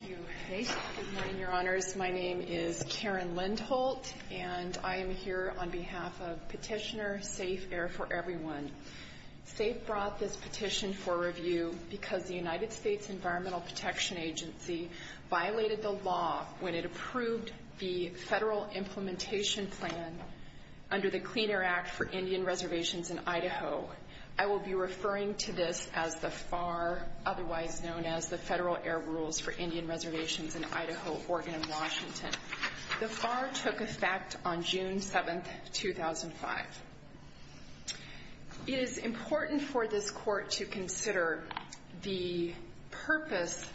Thank you. Hey, good morning, your honors. My name is Karen Lindholt, and I am here on behalf of petitioner SAFE Air For Everyone. SAFE brought this petition for review because the United States Environmental Protection Agency violated the law when it approved the federal implementation plan under the Clean Air Act for Indian Reservations in Idaho. I will be referring to this as the FAR, otherwise known as the Indian Reservations in Idaho, Oregon, and Washington. The FAR took effect on June 7, 2005. It is important for this court to consider the purpose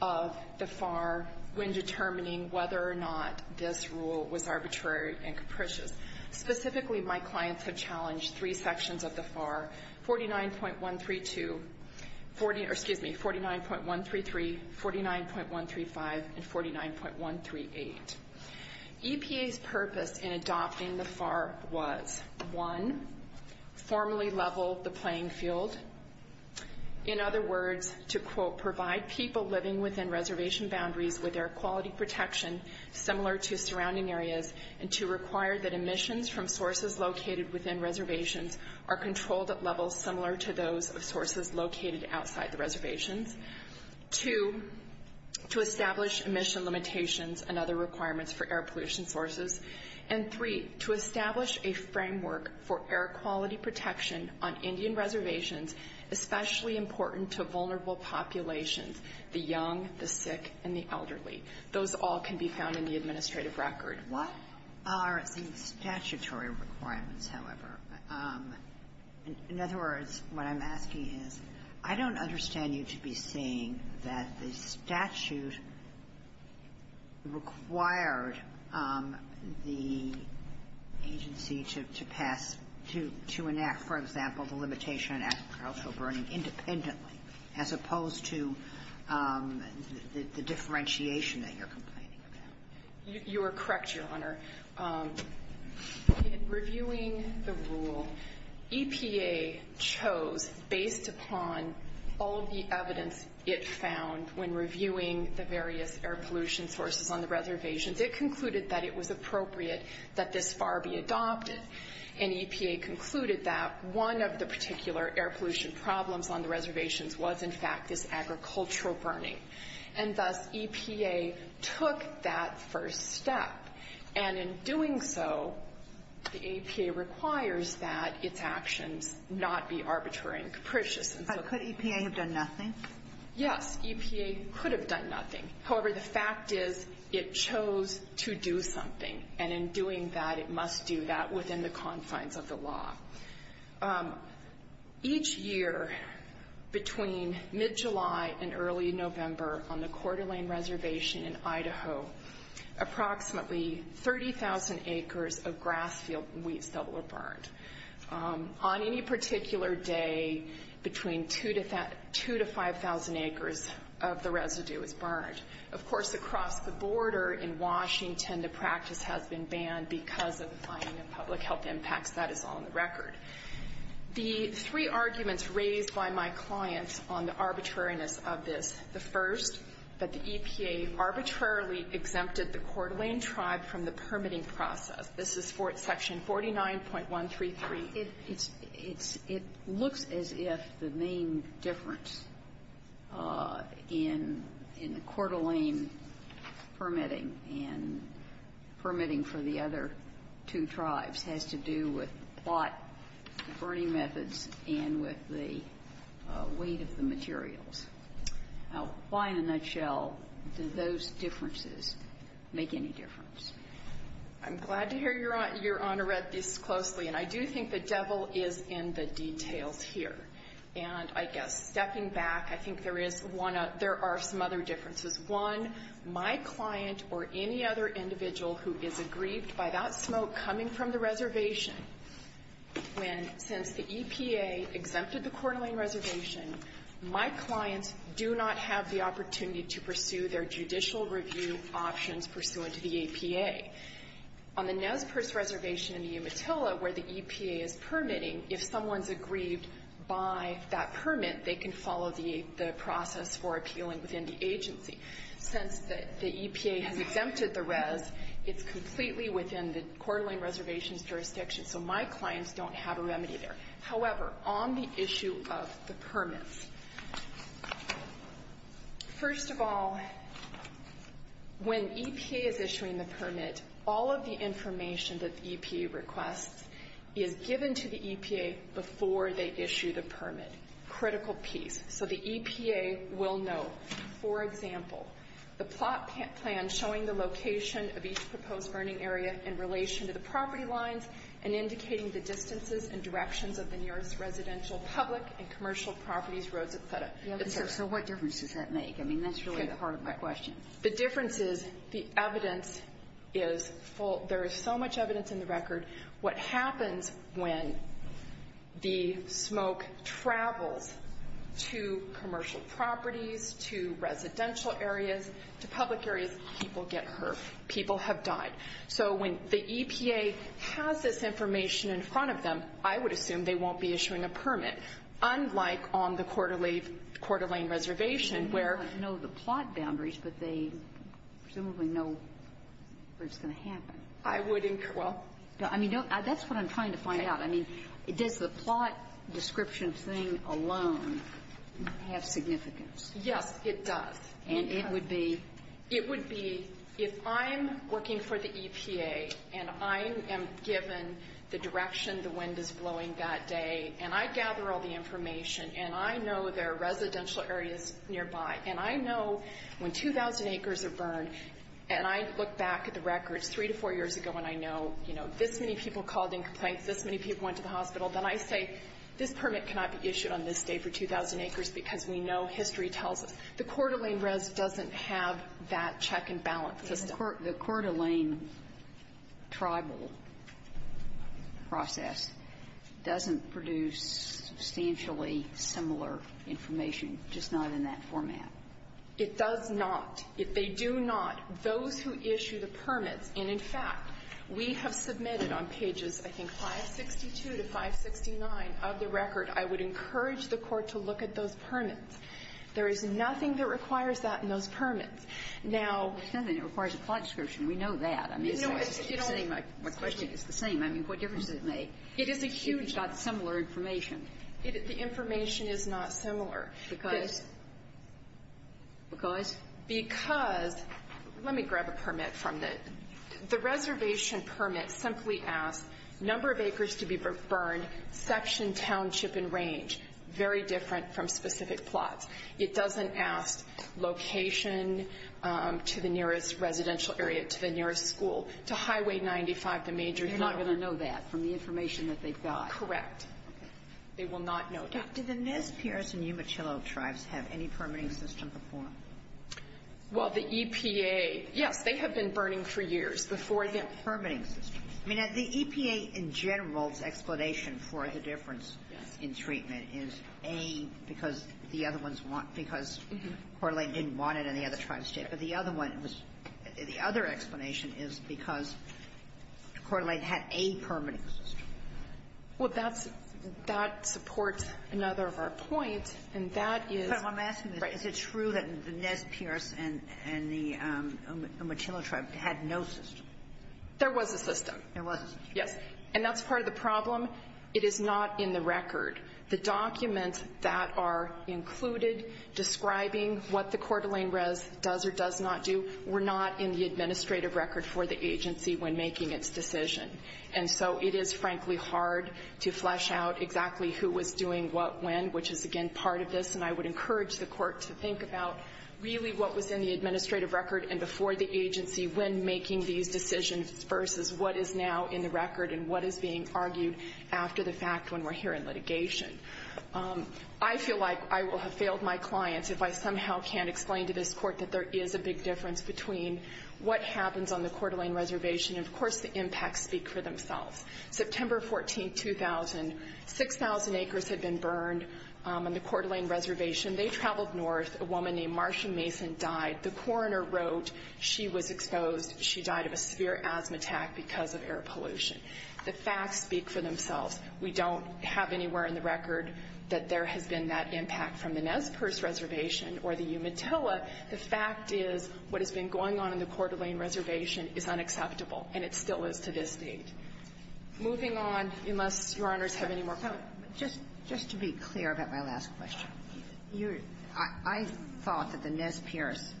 of the FAR when determining whether or not this rule was arbitrary and capricious. Specifically, my clients have challenged three and 49.138. EPA's purpose in adopting the FAR was, one, formally level the playing field. In other words, to, quote, provide people living within reservation boundaries with air quality protection similar to surrounding areas and to require that emissions from sources located within reservations. Two, to establish emission limitations and other requirements for air pollution sources. And three, to establish a framework for air quality protection on Indian reservations, especially important to vulnerable populations, the young, the sick, and the elderly. Those all can be found in the administrative record. What are the statutory requirements, however? In other words, what I'm asking is, I don't understand you to be saying that the statute required the agency to pass, to enact, for example, the limitation on agricultural burning independently as opposed to the differentiation that you're complaining about. You are correct, Your Honor. In reviewing the rule, EPA chose, based upon all the evidence it found when reviewing the various air pollution sources on the reservations, it concluded that it was appropriate that this FAR be adopted. And EPA concluded that one of the particular air pollution problems on the reservations was, in fact, this agricultural burning. And thus, EPA took that first step. And in doing so, the EPA requires that its actions not be arbitrary and capricious. But could EPA have done nothing? Yes, EPA could have done nothing. However, the fact is, it chose to do something. And in doing that, it must do that within the confines of the law. Each year, between mid-July and early November, on the Coeur d'Alene Reservation in Idaho, approximately 30,000 acres of grass field wheats that were burned. On any particular day, between 2,000 to 5,000 acres of the residue was burned. Of course, across the border in Washington, the The three arguments raised by my clients on the arbitrariness of this, the first, that the EPA arbitrarily exempted the Coeur d'Alene tribe from the permitting process. This is for Section 49.133. It's – it's – it looks as if the main difference in the Coeur d'Alene permitting and permitting for the other two tribes has to do with why the burning methods and with the weight of the materials. Why, in a nutshell, do those differences make any difference? I'm glad to hear Your Honor read this closely. And I do think the devil is in the details here. And I guess, stepping back, I think there is one – there are some other differences. One, my client or any other individual who is aggrieved by that smoke coming from the reservation when, since the EPA exempted the Coeur d'Alene reservation, my clients do not have the opportunity to pursue their judicial review options pursuant to the APA. On the Nez Perce reservation in the Umatilla, where the EPA is permitting, if someone's aggrieved by that permit, they can follow the process for appealing within the agency. Since the EPA has exempted the rez, it's completely within the Coeur d'Alene reservation's jurisdiction, so my clients don't have a remedy there. However, on the issue of the permits, first of all, when EPA is issuing the permit, all of the EPA will know. For example, the plot plan showing the location of each proposed burning area in relation to the property lines and indicating the distances and directions of the nearest residential, public, and commercial properties, roads, etc. So what difference does that make? I mean, that's really the heart of my question. The difference is the evidence is full. There is so much evidence in the record. What happens when the smoke travels to commercial properties, to residential areas, to public areas, people get hurt. People have died. So when the EPA has this information in front of them, I would assume they won't be presumably know where it's going to happen. I wouldn't. Well, I mean, that's what I'm trying to find out. I mean, does the plot description thing alone have significance? Yes, it does. And it would be? It would be, if I'm working for the EPA, and I am given the direction the wind is blowing that day, and I gather all the acres are burned, and I look back at the records three to four years ago, and I know, you know, this many people called in complaints, this many people went to the hospital, then I say, this permit cannot be issued on this day for 2,000 acres because we know history tells us. The Coeur d'Alene rez doesn't have that check-and-balance system. The Coeur d'Alene tribal process doesn't produce substantially similar information, just not in that format. It does not. If they do not, those who issue the permits, and, in fact, we have submitted on pages, I think, 562 to 569 of the record, I would encourage the Court to look at those permits. There is nothing that requires that in those permits. Now — It's nothing that requires a plot description. We know that. I mean, it's the same. My question is, it's the same. I mean, what difference does it make? It is a huge — If you've got similar information. The information is not similar. Because — Because? Because — let me grab a permit from the — the reservation permit simply asks, number of acres to be burned, section, township, and range. Very different from specific plots. It doesn't ask location to the nearest residential area, to the nearest school, to Highway 95, the major — They're not going to know that from the information that they've got. Correct. They will not know that. Did the Nez Perce and Umatillo tribes have any permitting system before? Well, the EPA — yes, they have been burning for years before they have permitting systems. I mean, the EPA, in general, its explanation for the difference in treatment is, A, because the other ones want — because Coeur d'Alene didn't want it, and the other tribes did. But the other one was — the other explanation is because Coeur d'Alene had a permitting system. Well, that's — that supports another of our points, and that is — But I'm asking, is it true that the Nez Perce and the Umatillo tribe had no system? There was a system. There was a system. Yes. And that's part of the problem. It is not in the record. The documents that are included describing what the Coeur d'Alene res does or does not do were not in the administrative record for the agency when making its decision. And so it is, frankly, hard to flesh out exactly who was doing what when, which is, again, part of this. And I would encourage the Court to think about, really, what was in the administrative record and before the agency when making these decisions versus what is now in the record and what is being argued after the fact when we're here in litigation. I feel like I will have failed my clients if I somehow can't explain to this Court that there is a big difference between what happens on the Coeur d'Alene reservation and, of course, the impacts speak for themselves. September 14, 2000, 6,000 acres had been burned on the Coeur d'Alene reservation. They traveled north. A woman named Marsha Mason died. The coroner wrote she was exposed. She died of a severe asthma attack because of air pollution. The facts speak for themselves. We don't have anywhere in the record that there has been that impact from the Nez Perce reservation or the Umatillo. The fact is what has been going on in the Coeur d'Alene reservation is unacceptable, and it still is to this date. Moving on, unless Your Honors have any more questions. Just to be clear about my last question. I thought that the Nez Perce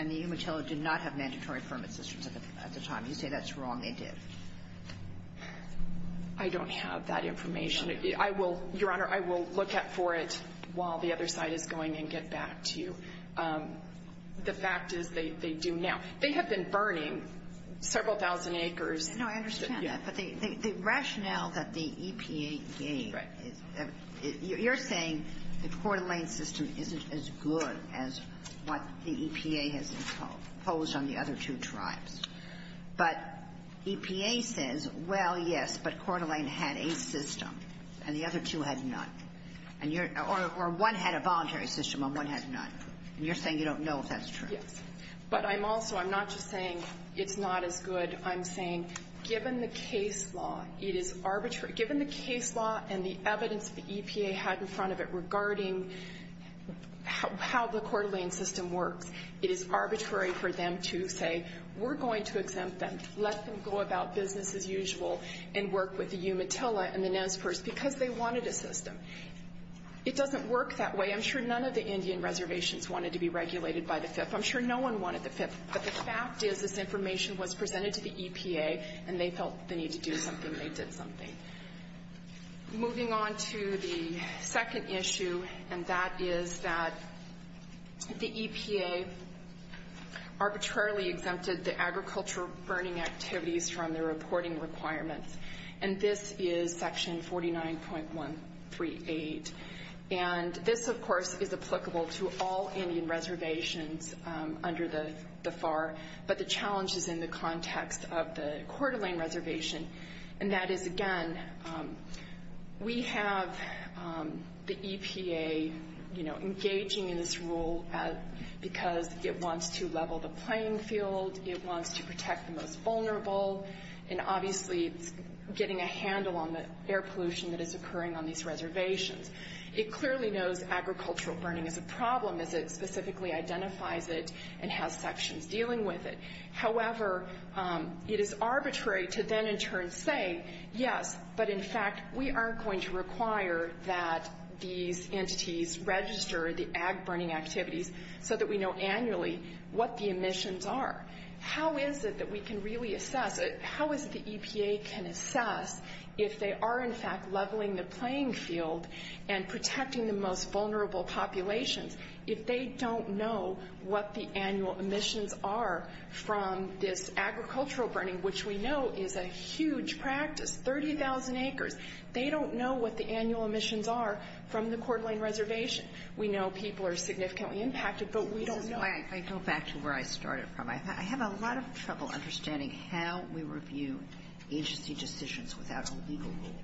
and the Umatillo did not have mandatory permit systems at the time. You say that's wrong. They did. I don't have that information. Your Honor, I will look for it while the other side is going and get back to you. The fact is they do now. They have been burning several thousand acres. No, I understand that, but the rationale that the EPA gave, you're saying the Coeur d'Alene system isn't as good as what the EPA has imposed on the other two tribes. But EPA says, well, yes, but Coeur d'Alene had a system, and the other two had none. Or one had a voluntary system and one had none, and you're saying you don't know if that's true. Yes, but I'm also, I'm not just saying it's not as good. I'm saying, given the case law, it is arbitrary. Given the case law and the evidence the EPA had in front of it regarding how the Coeur d'Alene system works, it is arbitrary for them to say, we're going to exempt them. Let them go about business as usual and work with the Umatilla and the Nez Perce, because they wanted a system. It doesn't work that way. I'm sure none of the Indian reservations wanted to be regulated by the FIF. I'm sure no one wanted the FIF, but the fact is this information was presented to the EPA, and they felt the need to do something, and they did something. Moving on to the second issue, and that is that the EPA arbitrarily exempted the agricultural burning activities from their reporting requirements. And this is section 49.138, and this, of course, is applicable to all Indian reservations under the FAR. But the challenge is in the context of the Coeur d'Alene reservation. And that is, again, we have the EPA engaging in this rule because it wants to level the playing field. It wants to protect the most vulnerable. And obviously, it's getting a handle on the air pollution that is occurring on these reservations. It clearly knows agricultural burning is a problem, as it specifically identifies it and has sections dealing with it. However, it is arbitrary to then in turn say, yes, but in fact, we aren't going to require that these entities register the ag burning activities so that we know annually what the emissions are. How is it that we can really assess it? How is it the EPA can assess if they are in fact leveling the playing field and protecting the most vulnerable populations if they don't know what the annual emissions are from this agricultural burning, which we know is a huge practice, 30,000 acres. They don't know what the annual emissions are from the Coeur d'Alene reservation. We know people are significantly impacted, but we don't know. I go back to where I started from. I have a lot of trouble understanding how we review agency decisions without a legal rule.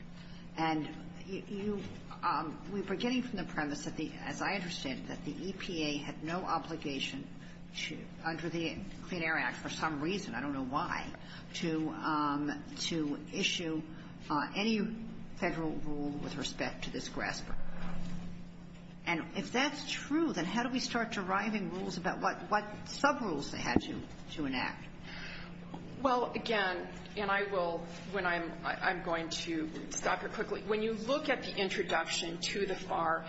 And you, we were getting from the premise that the, as I understand it, that the EPA had no obligation to, under the Clean Air Act for some reason, I don't know why, to issue any Federal rule with respect to this grass-roots. And if that's true, then how do we start deriving rules about what sub-rules they had to enact? Well, again, and I will, when I'm, I'm going to stop here quickly. When you look at the introduction to the FAR,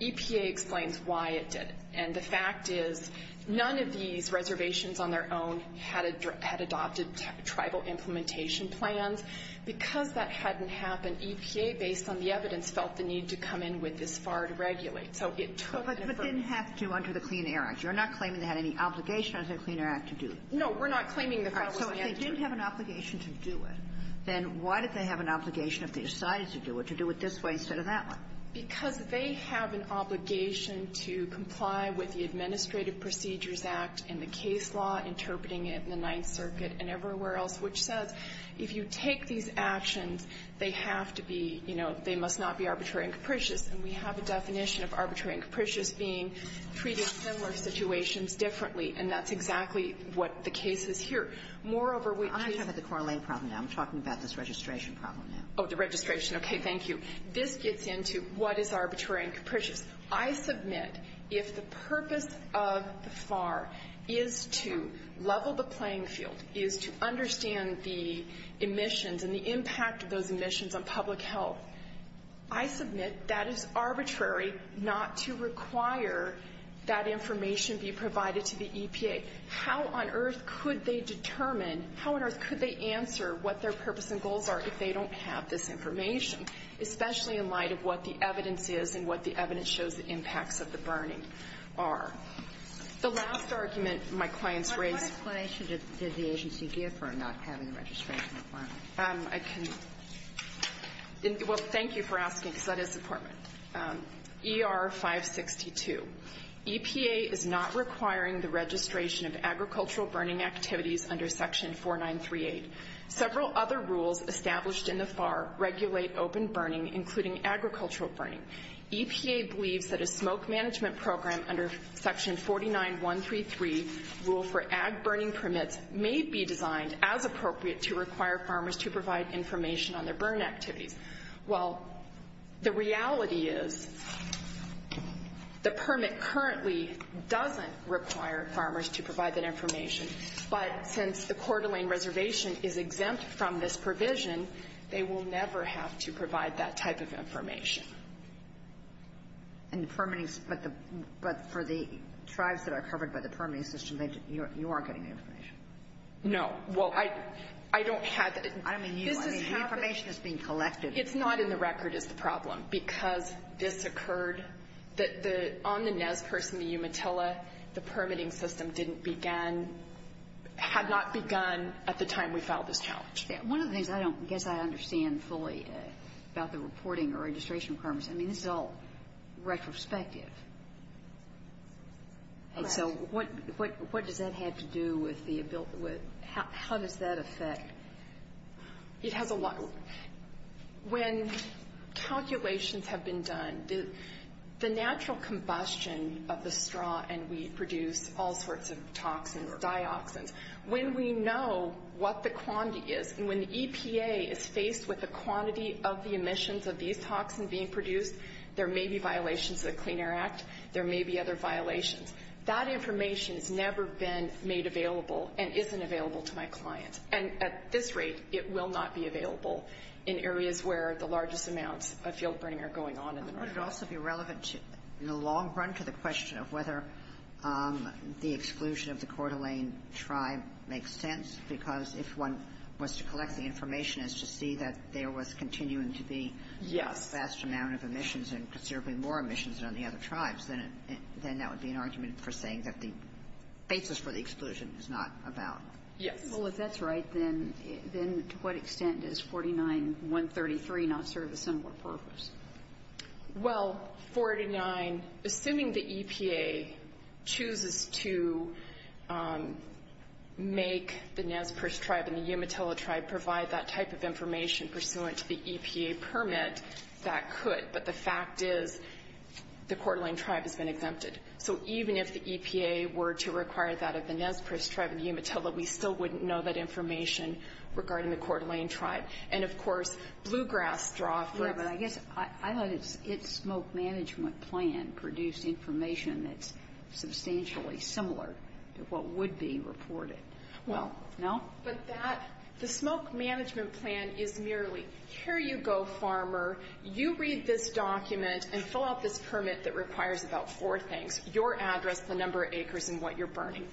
EPA explains why it did it. And the fact is, none of these reservations on their own had adopted tribal implementation plans. Because that hadn't happened, EPA, based on the evidence, felt the need to come in with this FAR to regulate. So, it took. But it didn't have to under the Clean Air Act. You're not claiming they had any obligation under the Clean Air Act to do it. No. We're not claiming that that was the answer. So if they didn't have an obligation to do it, then why did they have an obligation if they decided to do it, to do it this way instead of that way? Because they have an obligation to comply with the Administrative Procedures Act and the case law interpreting it in the Ninth Circuit and everywhere else, which says if you take these actions, they have to be, you know, they must not be arbitrary and capricious. And we have a definition of arbitrary and capricious being treated in similar situations differently. And that's exactly what the case is here. Moreover, we. I'm not talking about the correlation problem now. I'm talking about this registration problem now. Oh, the registration. Thank you. This gets into what is arbitrary and capricious. I submit if the purpose of the FAR is to level the playing field, is to understand the emissions and the impact of those emissions on public health, I submit that is arbitrary not to require that information be provided to the EPA. How on earth could they determine, how on earth could they answer what their purpose and goals are if they don't have this information, especially in light of what the evidence is and what the evidence shows the impacts of the burning are? The last argument my clients raised. What explanation did the agency give for not having the registration requirement? I can. Well, thank you for asking, because that is important. ER 562. EPA is not requiring the registration of agricultural burning activities under Section 4938. Several other rules established in the FAR regulate open burning, including agricultural burning. EPA believes that a smoke management program under Section 49133, Rule for Ag Burning Permits, may be designed as appropriate to require farmers to provide information on their burn activities. Well, the reality is, the permit currently doesn't require farmers to provide that information, but since the Coeur d'Alene Reservation is exempt from this provision, they will never have to provide that type of information. And the permitting, but for the tribes that are covered by the permitting system, you are getting the information. No. Well, I don't have the ---- I don't mean you. I mean, the information is being collected. It's not in the record is the problem, because this occurred that the ñ on the Nez Purse and the Umatilla, the permitting system didn't begin ñ had not begun at the time we filed this challenge. One of the things I don't guess I understand fully about the reporting or registration requirements, I mean, this is all retrospective. And so, what does that have to do with the ñ how does that affect? It has a lot. When calculations have been done, the natural combustion of the straw and wheat produce all sorts of toxins, dioxins. When we know what the quantity is, and when the EPA is faced with the quantity of the emissions of these toxins being produced, there may be violations of the law. There may be other violations. That information has never been made available and isn't available to my clients. And at this rate, it will not be available in areas where the largest amounts of field burning are going on in the north. Would it also be relevant to, in the long run, to the question of whether the exclusion of the Coeur d'Alene tribe makes sense? Because if one was to collect the information, it's to see that there was continuing to be a vast amount of emissions and considerably more emissions than the other tribes, then that would be an argument for saying that the basis for the exclusion is not about ñ Yes. Well, if that's right, then to what extent is 49.133 not served a similar purpose? Well, 49 ñ assuming the EPA chooses to make the Nez Perce tribe and the Umatilla tribe provide that type of information pursuant to the EPA permit, that could. But the fact is, the Coeur d'Alene tribe has been exempted. So even if the EPA were to require that of the Nez Perce tribe and the Umatilla, we still wouldn't know that information regarding the Coeur d'Alene tribe. And of course, bluegrass drawfish ñ Yeah, but I guess I thought its smoke management plan produced information that's substantially similar to what would be reported. Well, no? But that ñ the smoke management plan is merely, here you go, farmer. You read this document and fill out this permit that requires about four things, your address, the number of acres and what you're burning.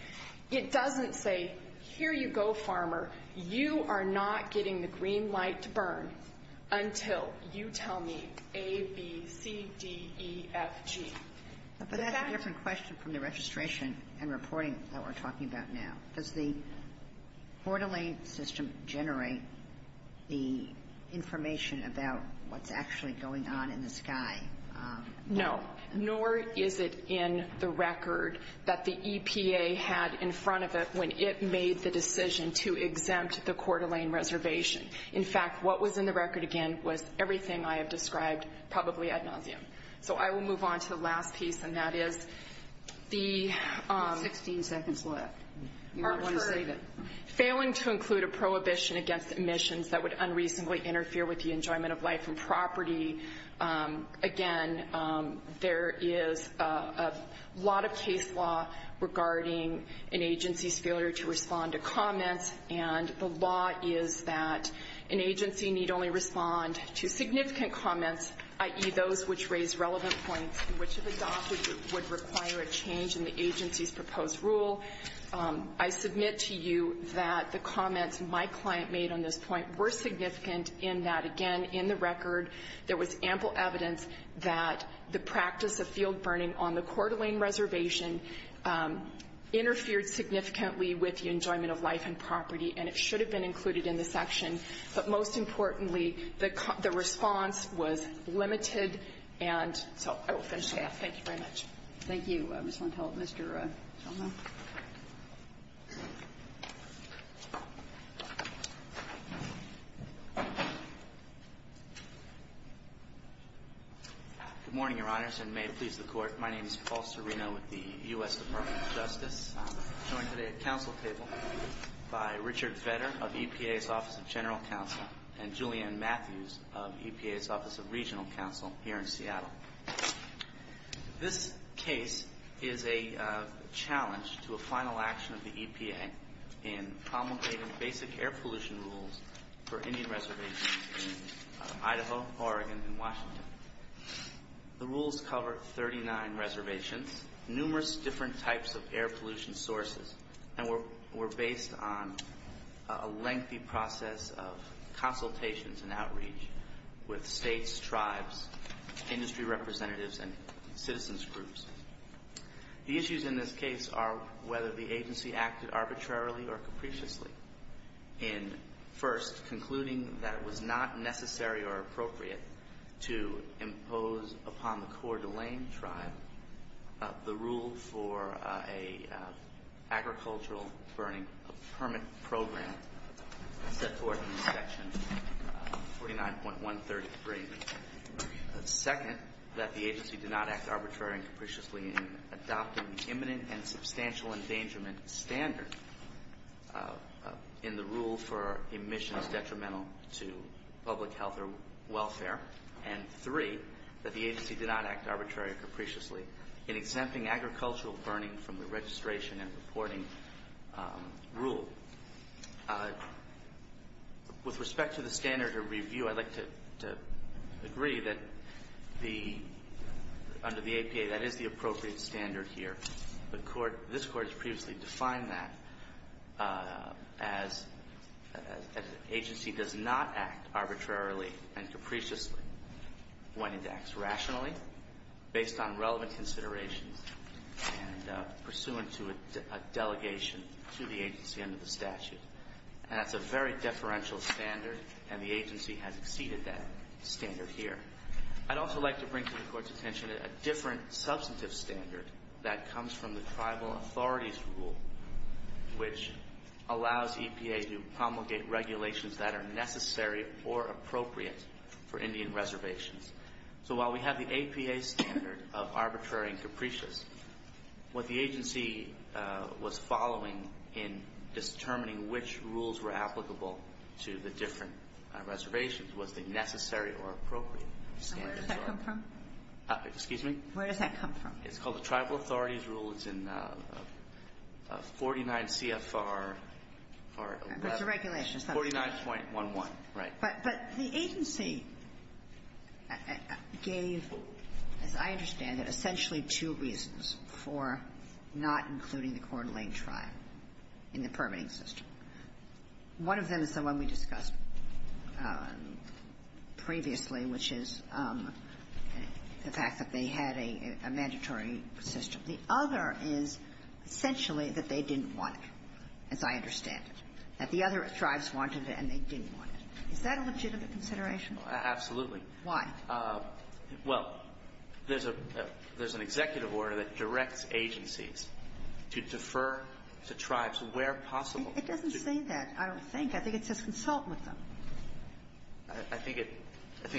It doesn't say, here you go, farmer. You are not getting the green light to burn until you tell me A, B, C, D, E, F, G. But that's a different question from the registration and reporting that we're talking about now. Does the Coeur d'Alene system generate the information about what's actually going on in the sky? No. Nor is it in the record that the EPA had in front of it when it made the decision to exempt the Coeur d'Alene reservation. In fact, what was in the record, again, was everything I have described, probably ad nauseum. So I will move on to the last piece, and that is the ñ Sixteen seconds left. Part three. Failing to include a prohibition against emissions that would unreasonably interfere with the enjoyment of life and property. Again, there is a lot of case law regarding an agency's failure to respond to comments, and the law is that an agency need only respond to significant comments, i.e., those which raise relevant points and which, if adopted, would require a change in the agency's proposed rule. I submit to you that the comments my client made on this point were significant in that, again, in the record, there was ample evidence that the practice of field burning on the Coeur d'Alene reservation interfered significantly with the enjoyment of life and property, and it should have been included in the section. But most importantly, the response was limited, and so I will finish there. Thank you very much. GOTTLIEB Thank you, Ms. Lentil. Mr. Chalmer. MR. CHALMER Good morning, Your Honors, and may it please the Court. My name is Paul Serino with the U.S. Department of Justice. I'm joined today at council table by Richard Fetter of EPA's Office of General Counsel and Julian Matthews of EPA's Office of Regional Counsel here in Seattle. This case is a challenge to a final action of the EPA in promulgating basic air pollution rules for Indian reservations in Idaho, Oregon, and Washington. The rules cover 39 reservations, numerous different types of air pollution sources, and were based on a lengthy process of consultations and outreach with states, tribes, industry representatives, and citizens groups. The issues in this case are whether the agency acted arbitrarily or capriciously in first concluding that it was not necessary or appropriate to impose upon the Coeur d'Alene tribe the rule for an agricultural burning permit program set forth in section 49.133, second, that the agency did not act arbitrarily or capriciously in adopting the imminent and substantial endangerment standard in the rule for emissions detrimental to public health or welfare, and three, that the agency did not act arbitrarily or capriciously in exempting agricultural burning from the registration and reporting rule. With respect to the standard of review, I'd like to agree that under the APA, that is the appropriate standard here. This Court has previously defined that as an agency does not act arbitrarily and capriciously when it acts rationally, based on relevant considerations and pursuant to a delegation to the agency under the statute, and that's a very deferential standard, and the agency has exceeded that standard here. I'd also like to bring to the Court's attention a different substantive standard that comes from the Tribal Authorities Rule, which allows EPA to promulgate regulations that are necessary or appropriate for Indian reservations. So while we have the APA standard of arbitrary and capricious, what the agency was following in determining which rules were applicable to the different reservations was the necessary or appropriate standards. Where does that come from? Excuse me? Where does that come from? It's called the Tribal Authorities Rule. It's in 49 CFR 11. It's a regulation. 49.11. Right. But the agency gave, as I understand it, essentially two reasons for not including the Coeur d'Alene tribe in the permitting system. One of them is the one we discussed previously, which is the fact that they had a mandatory system. The other is essentially that they didn't want it, as I understand it, that the other tribes wanted it and they didn't want it. Is that a legitimate consideration? Absolutely. Why? Well, there's an executive order that directs agencies to defer to tribes where possible. It doesn't say that, I don't think. I think it says consult with them. I think it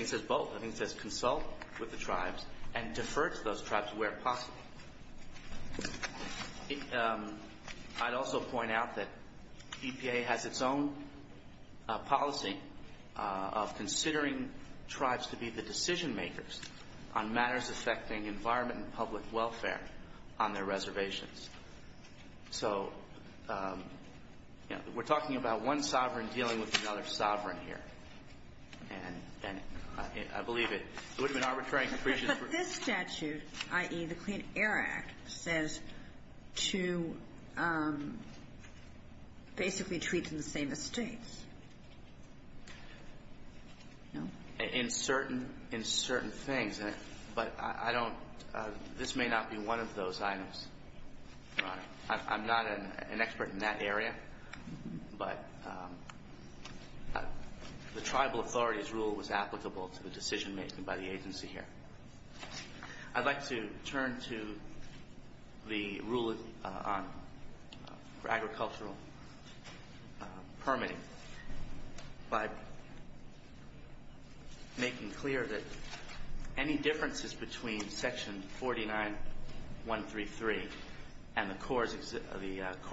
says both. I think it says consult with the tribes and defer to those tribes where possible. I'd also point out that EPA has its own policy of considering tribes to be the decision-makers on matters affecting environment and public welfare on their reservations. So, you know, we're talking about one sovereign dealing with another sovereign here. And I believe it would have been arbitrary and capricious. But this statute, i.e., the Clean Air Act, says to basically treat them the same as states. No? In certain things. But I don't – this may not be one of those items, Your Honor. I'm not an expert in that area. But the tribal authority's rule was applicable to the decision-making by the agency here. I'd like to turn to the rule on agricultural permitting by making clear that any differences between Section 49.133 and the Coeur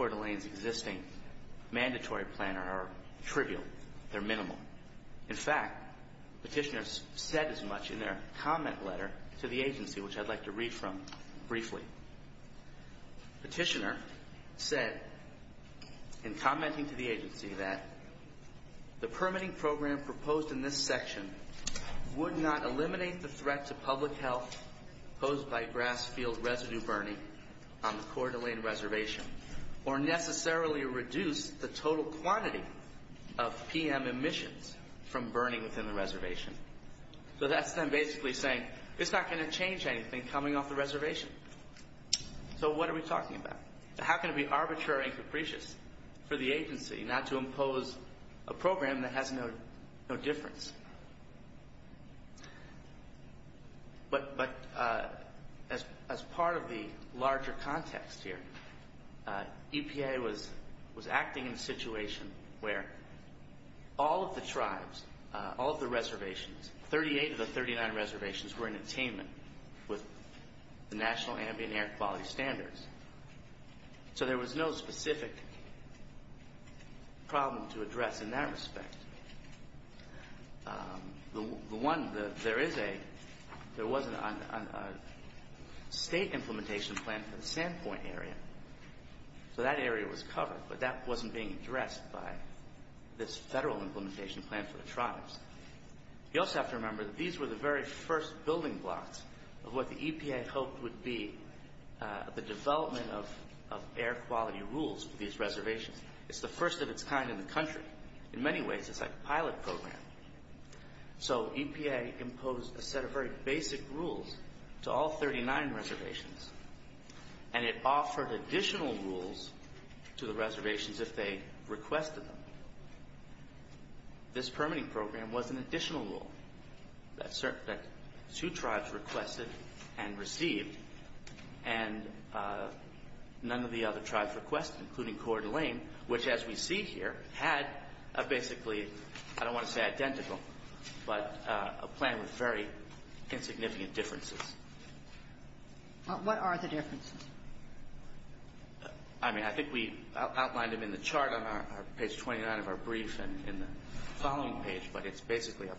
d'Alene's existing mandatory plan are trivial. They're minimal. In fact, petitioners said as much in their comment letter to the agency, which I'd like to read from briefly. Petitioner said in commenting to the agency that the permitting program proposed in this section would not eliminate the threat to public health posed by grass field residue burning on the Coeur d'Alene reservation or necessarily reduce the total quantity of PM emissions from burning within the reservation. So that's them basically saying it's not going to change anything coming off the reservation. So what are we talking about? How can it be arbitrary and capricious for the agency not to impose a program that has no difference? But as part of the larger context here, EPA was acting in a situation where all of the tribes, all of the reservations, 38 of the 39 reservations were in attainment with the National Ambient Air Quality Standards. So there was no specific problem to address in that respect. The one, there is a, there was a state implementation plan for the Sandpoint area. So that area was covered, but that wasn't being addressed by this federal implementation plan for the tribes. You also have to remember that these were the very first building blocks of what the EPA hoped would be the development of air quality rules for these reservations. It's the first of its kind in the country. In many ways, it's like a pilot program. So EPA imposed a set of very basic rules to all 39 reservations, and it offered additional rules to the reservations if they requested them. This permitting program was an additional rule that two tribes requested and received, and none of the other tribes requested, including Coeur d'Alene, which, as we see here, had a basically, I don't want to say identical, but a plan with very insignificant differences. What are the differences? I mean, I think we outlined them in the chart on our page 29 of our brief and in the following page, but it's basically a,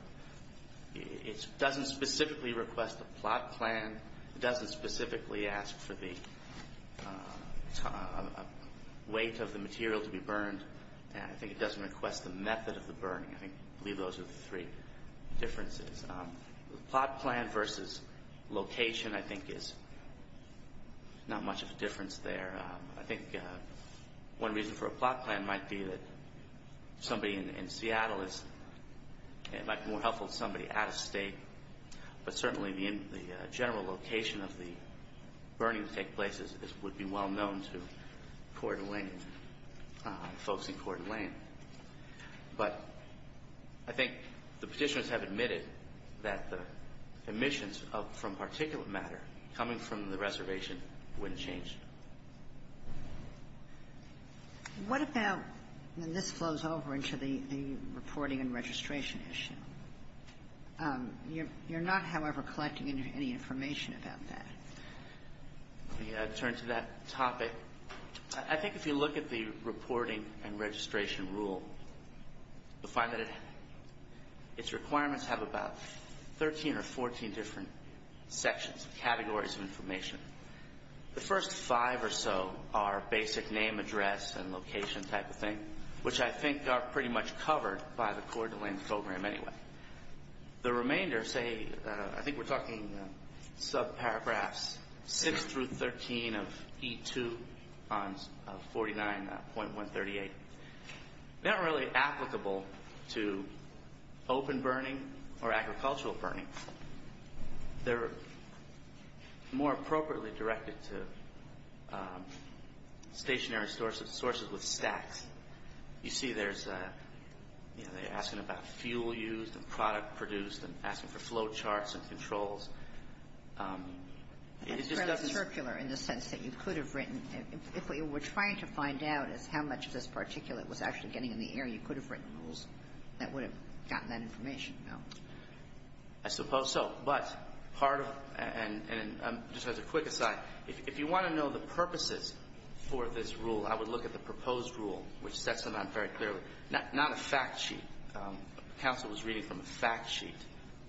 it doesn't specifically request a plot plan. It doesn't specifically ask for the weight of the material to be burned, and I think it doesn't request the method of the burning. I believe those are the three differences. The plot plan versus location, I think, is not much of a difference there. I think one reason for a plot plan might be that somebody in Seattle is, it might be more helpful to somebody out of State, but certainly the general location of the burning to take place would be well known to Coeur d'Alene, folks in Coeur d'Alene. But I think the Petitioners have admitted that the emissions from particulate matter coming from the reservation wouldn't change. What about, and this flows over into the reporting and registration issue. You're not, however, collecting any information about that. Let me turn to that topic. I think if you look at the reporting and registration rule, you'll find that its requirements have about 13 or 14 different sections, categories of information. The first five or so are basic name, address, and location type of thing, which I think are pretty much covered by the Coeur d'Alene program anyway. The remainder say, I think we're talking sub-paragraphs 6 through 13 of E2 on 49.138, not really applicable to open burning or agricultural burning. They're more appropriately directed to stationary sources, sources with stacks. You see there's, you know, they're asking about fuel used and product produced and asking for flow charts and controls. It just doesn't That's fairly circular in the sense that you could have written if what you were trying to find out is how much of this particulate was actually getting in the air, you could have written rules that would have gotten that information. I suppose so. But part of, and just as a quick aside, if you want to know the purposes for this rule, I would look at the proposed rule, which sets them out very clearly. Not a fact sheet. Counsel was reading from a fact sheet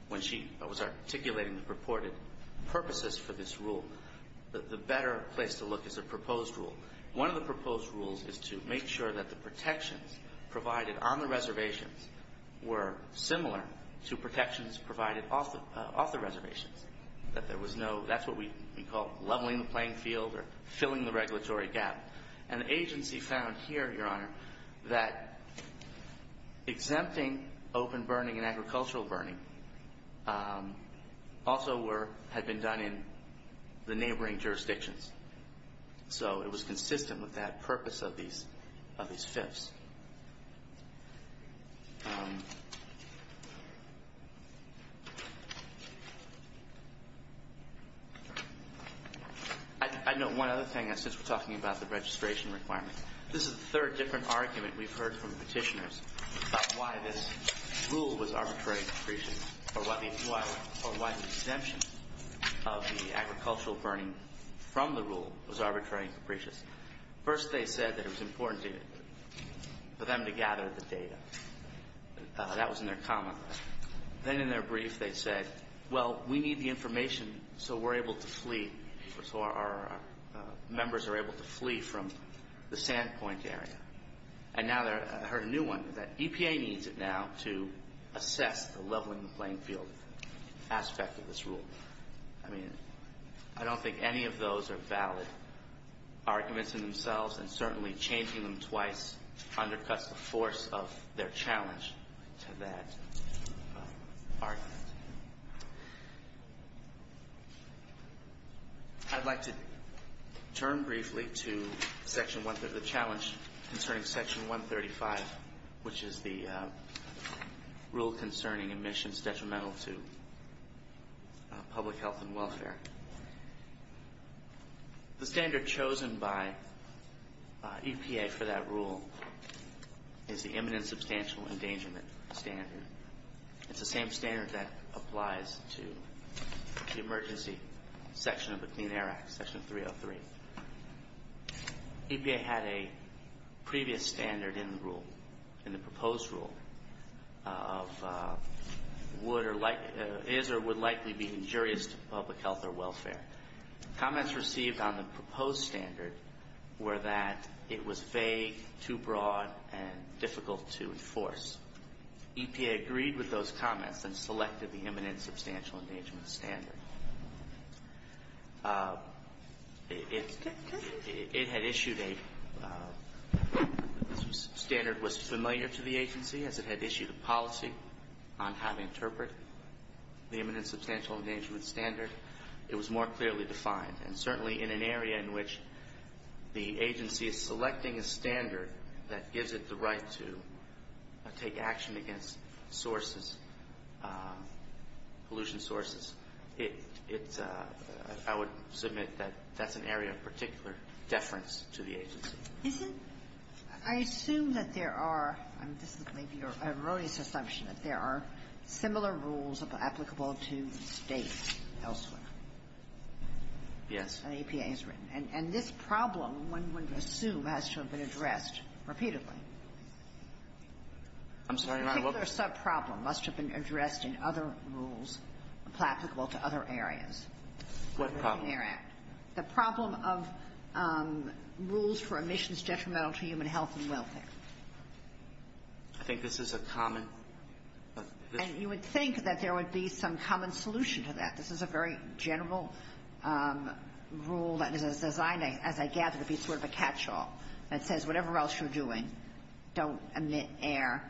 when she was articulating the purported purposes for this rule. The better place to look is a proposed rule. One of the proposed rules is to make sure that the protections provided on the reservations were similar to protections provided off the reservations, that there was no, that's what we call leveling the playing field or filling the regulatory gap. And the agency found here, Your Honor, that exempting open burning and agricultural burning also had been done in the neighboring jurisdictions. So it was consistent with that purpose of these fifths. I'd note one other thing, since we're talking about the registration requirement. This is the third different argument we've heard from petitioners about why this rule was arbitrary depreciation or why the exemption of the agricultural burning from the rule was arbitrary and capricious. First they said that it was important for them to gather the data. That was in their comment. Then in their brief they said, well, we need the information so we're able to flee, so our members are able to flee from the Sandpoint area. And now I heard a new one, that EPA needs it now to assess the leveling the playing field aspect of this rule. I mean, I don't think any of those are valid arguments in themselves, and certainly changing them twice undercuts the force of their challenge to that argument. I'd like to turn briefly to the challenge concerning Section 135, which is the rule concerning emissions detrimental to public health and welfare. The standard chosen by EPA for that rule is the imminent substantial endangerment standard. It's the same standard that applies to the emergency section of the Clean Air Act, Section 303. EPA had a previous standard in the rule, in the proposed rule, of is or would likely be injurious to public health or welfare. Comments received on the proposed standard were that it was vague, too broad, and difficult to enforce. EPA agreed with those comments and selected the imminent substantial endangerment standard. It had issued a standard that was familiar to the agency, as it had issued a policy on how to interpret the imminent substantial endangerment standard. It was more clearly defined. And certainly in an area in which the agency is selecting a standard that gives it the right to take action against sources, pollution sources, it's – I would submit that that's an area of particular deference to the agency. Is it – I assume that there are – I mean, this is maybe your erroneous assumption, that there are similar rules applicable to States elsewhere. Yes. And EPA has written. And this problem, one would assume, has to have been addressed repeatedly. I'm sorry, Your Honor. A particular subproblem must have been addressed in other rules applicable to other areas. What problem? The Clean Air Act. The problem of rules for emissions detrimental to human health and welfare. I think this is a common – And you would think that there would be some common solution to that. This is a very general rule that is designed, as I gather, to be sort of a catch-all that says whatever else you're doing, don't emit air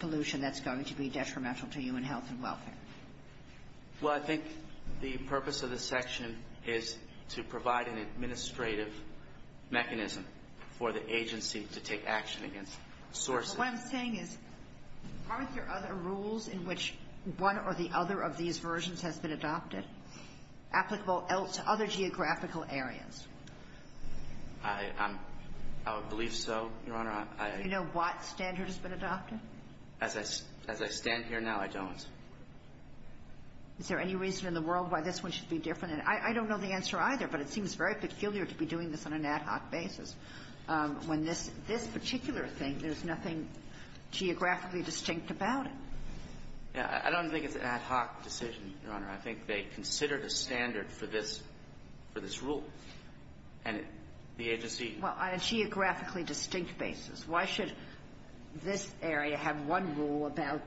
pollution that's going to be detrimental to human health and welfare. Well, I think the purpose of this section is to provide an administrative mechanism for the agency to take action against sources. What I'm saying is, aren't there other rules in which one or the other of these versions has been adopted, applicable to other geographical areas? I believe so, Your Honor. Do you know what standard has been adopted? As I stand here now, I don't. Is there any reason in the world why this one should be different? And I don't know the answer either, but it seems very peculiar to be doing this on an ad hoc basis, when this particular thing, there's nothing geographically distinct about it. Yeah. I don't think it's an ad hoc decision, Your Honor. I think they considered a standard for this rule. And the agency – Well, on a geographically distinct basis, why should this area have one rule about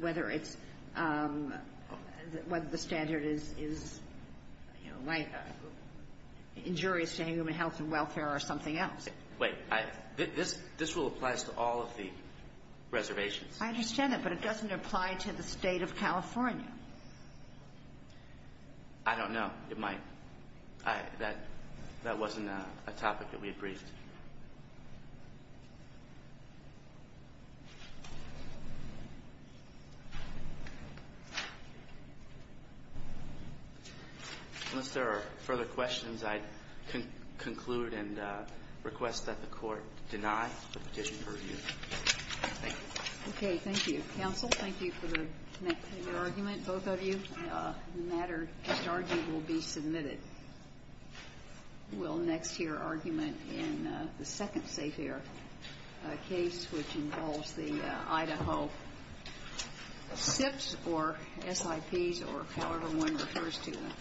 whether it's – whether the standard is injurious to human health and welfare or something else? Wait. This rule applies to all of the reservations. I understand that, but it doesn't apply to the State of California. I don't know. It might. That wasn't a topic that we agreed to. Unless there are further questions, I'd conclude and request that the Court deny the petition to review. Thank you. Okay. Thank you. Counsel, thank you for connecting your argument, both of you. The matter at argued will be submitted. case, which involves the Idaho SIPs or SIPs or however one refers to them.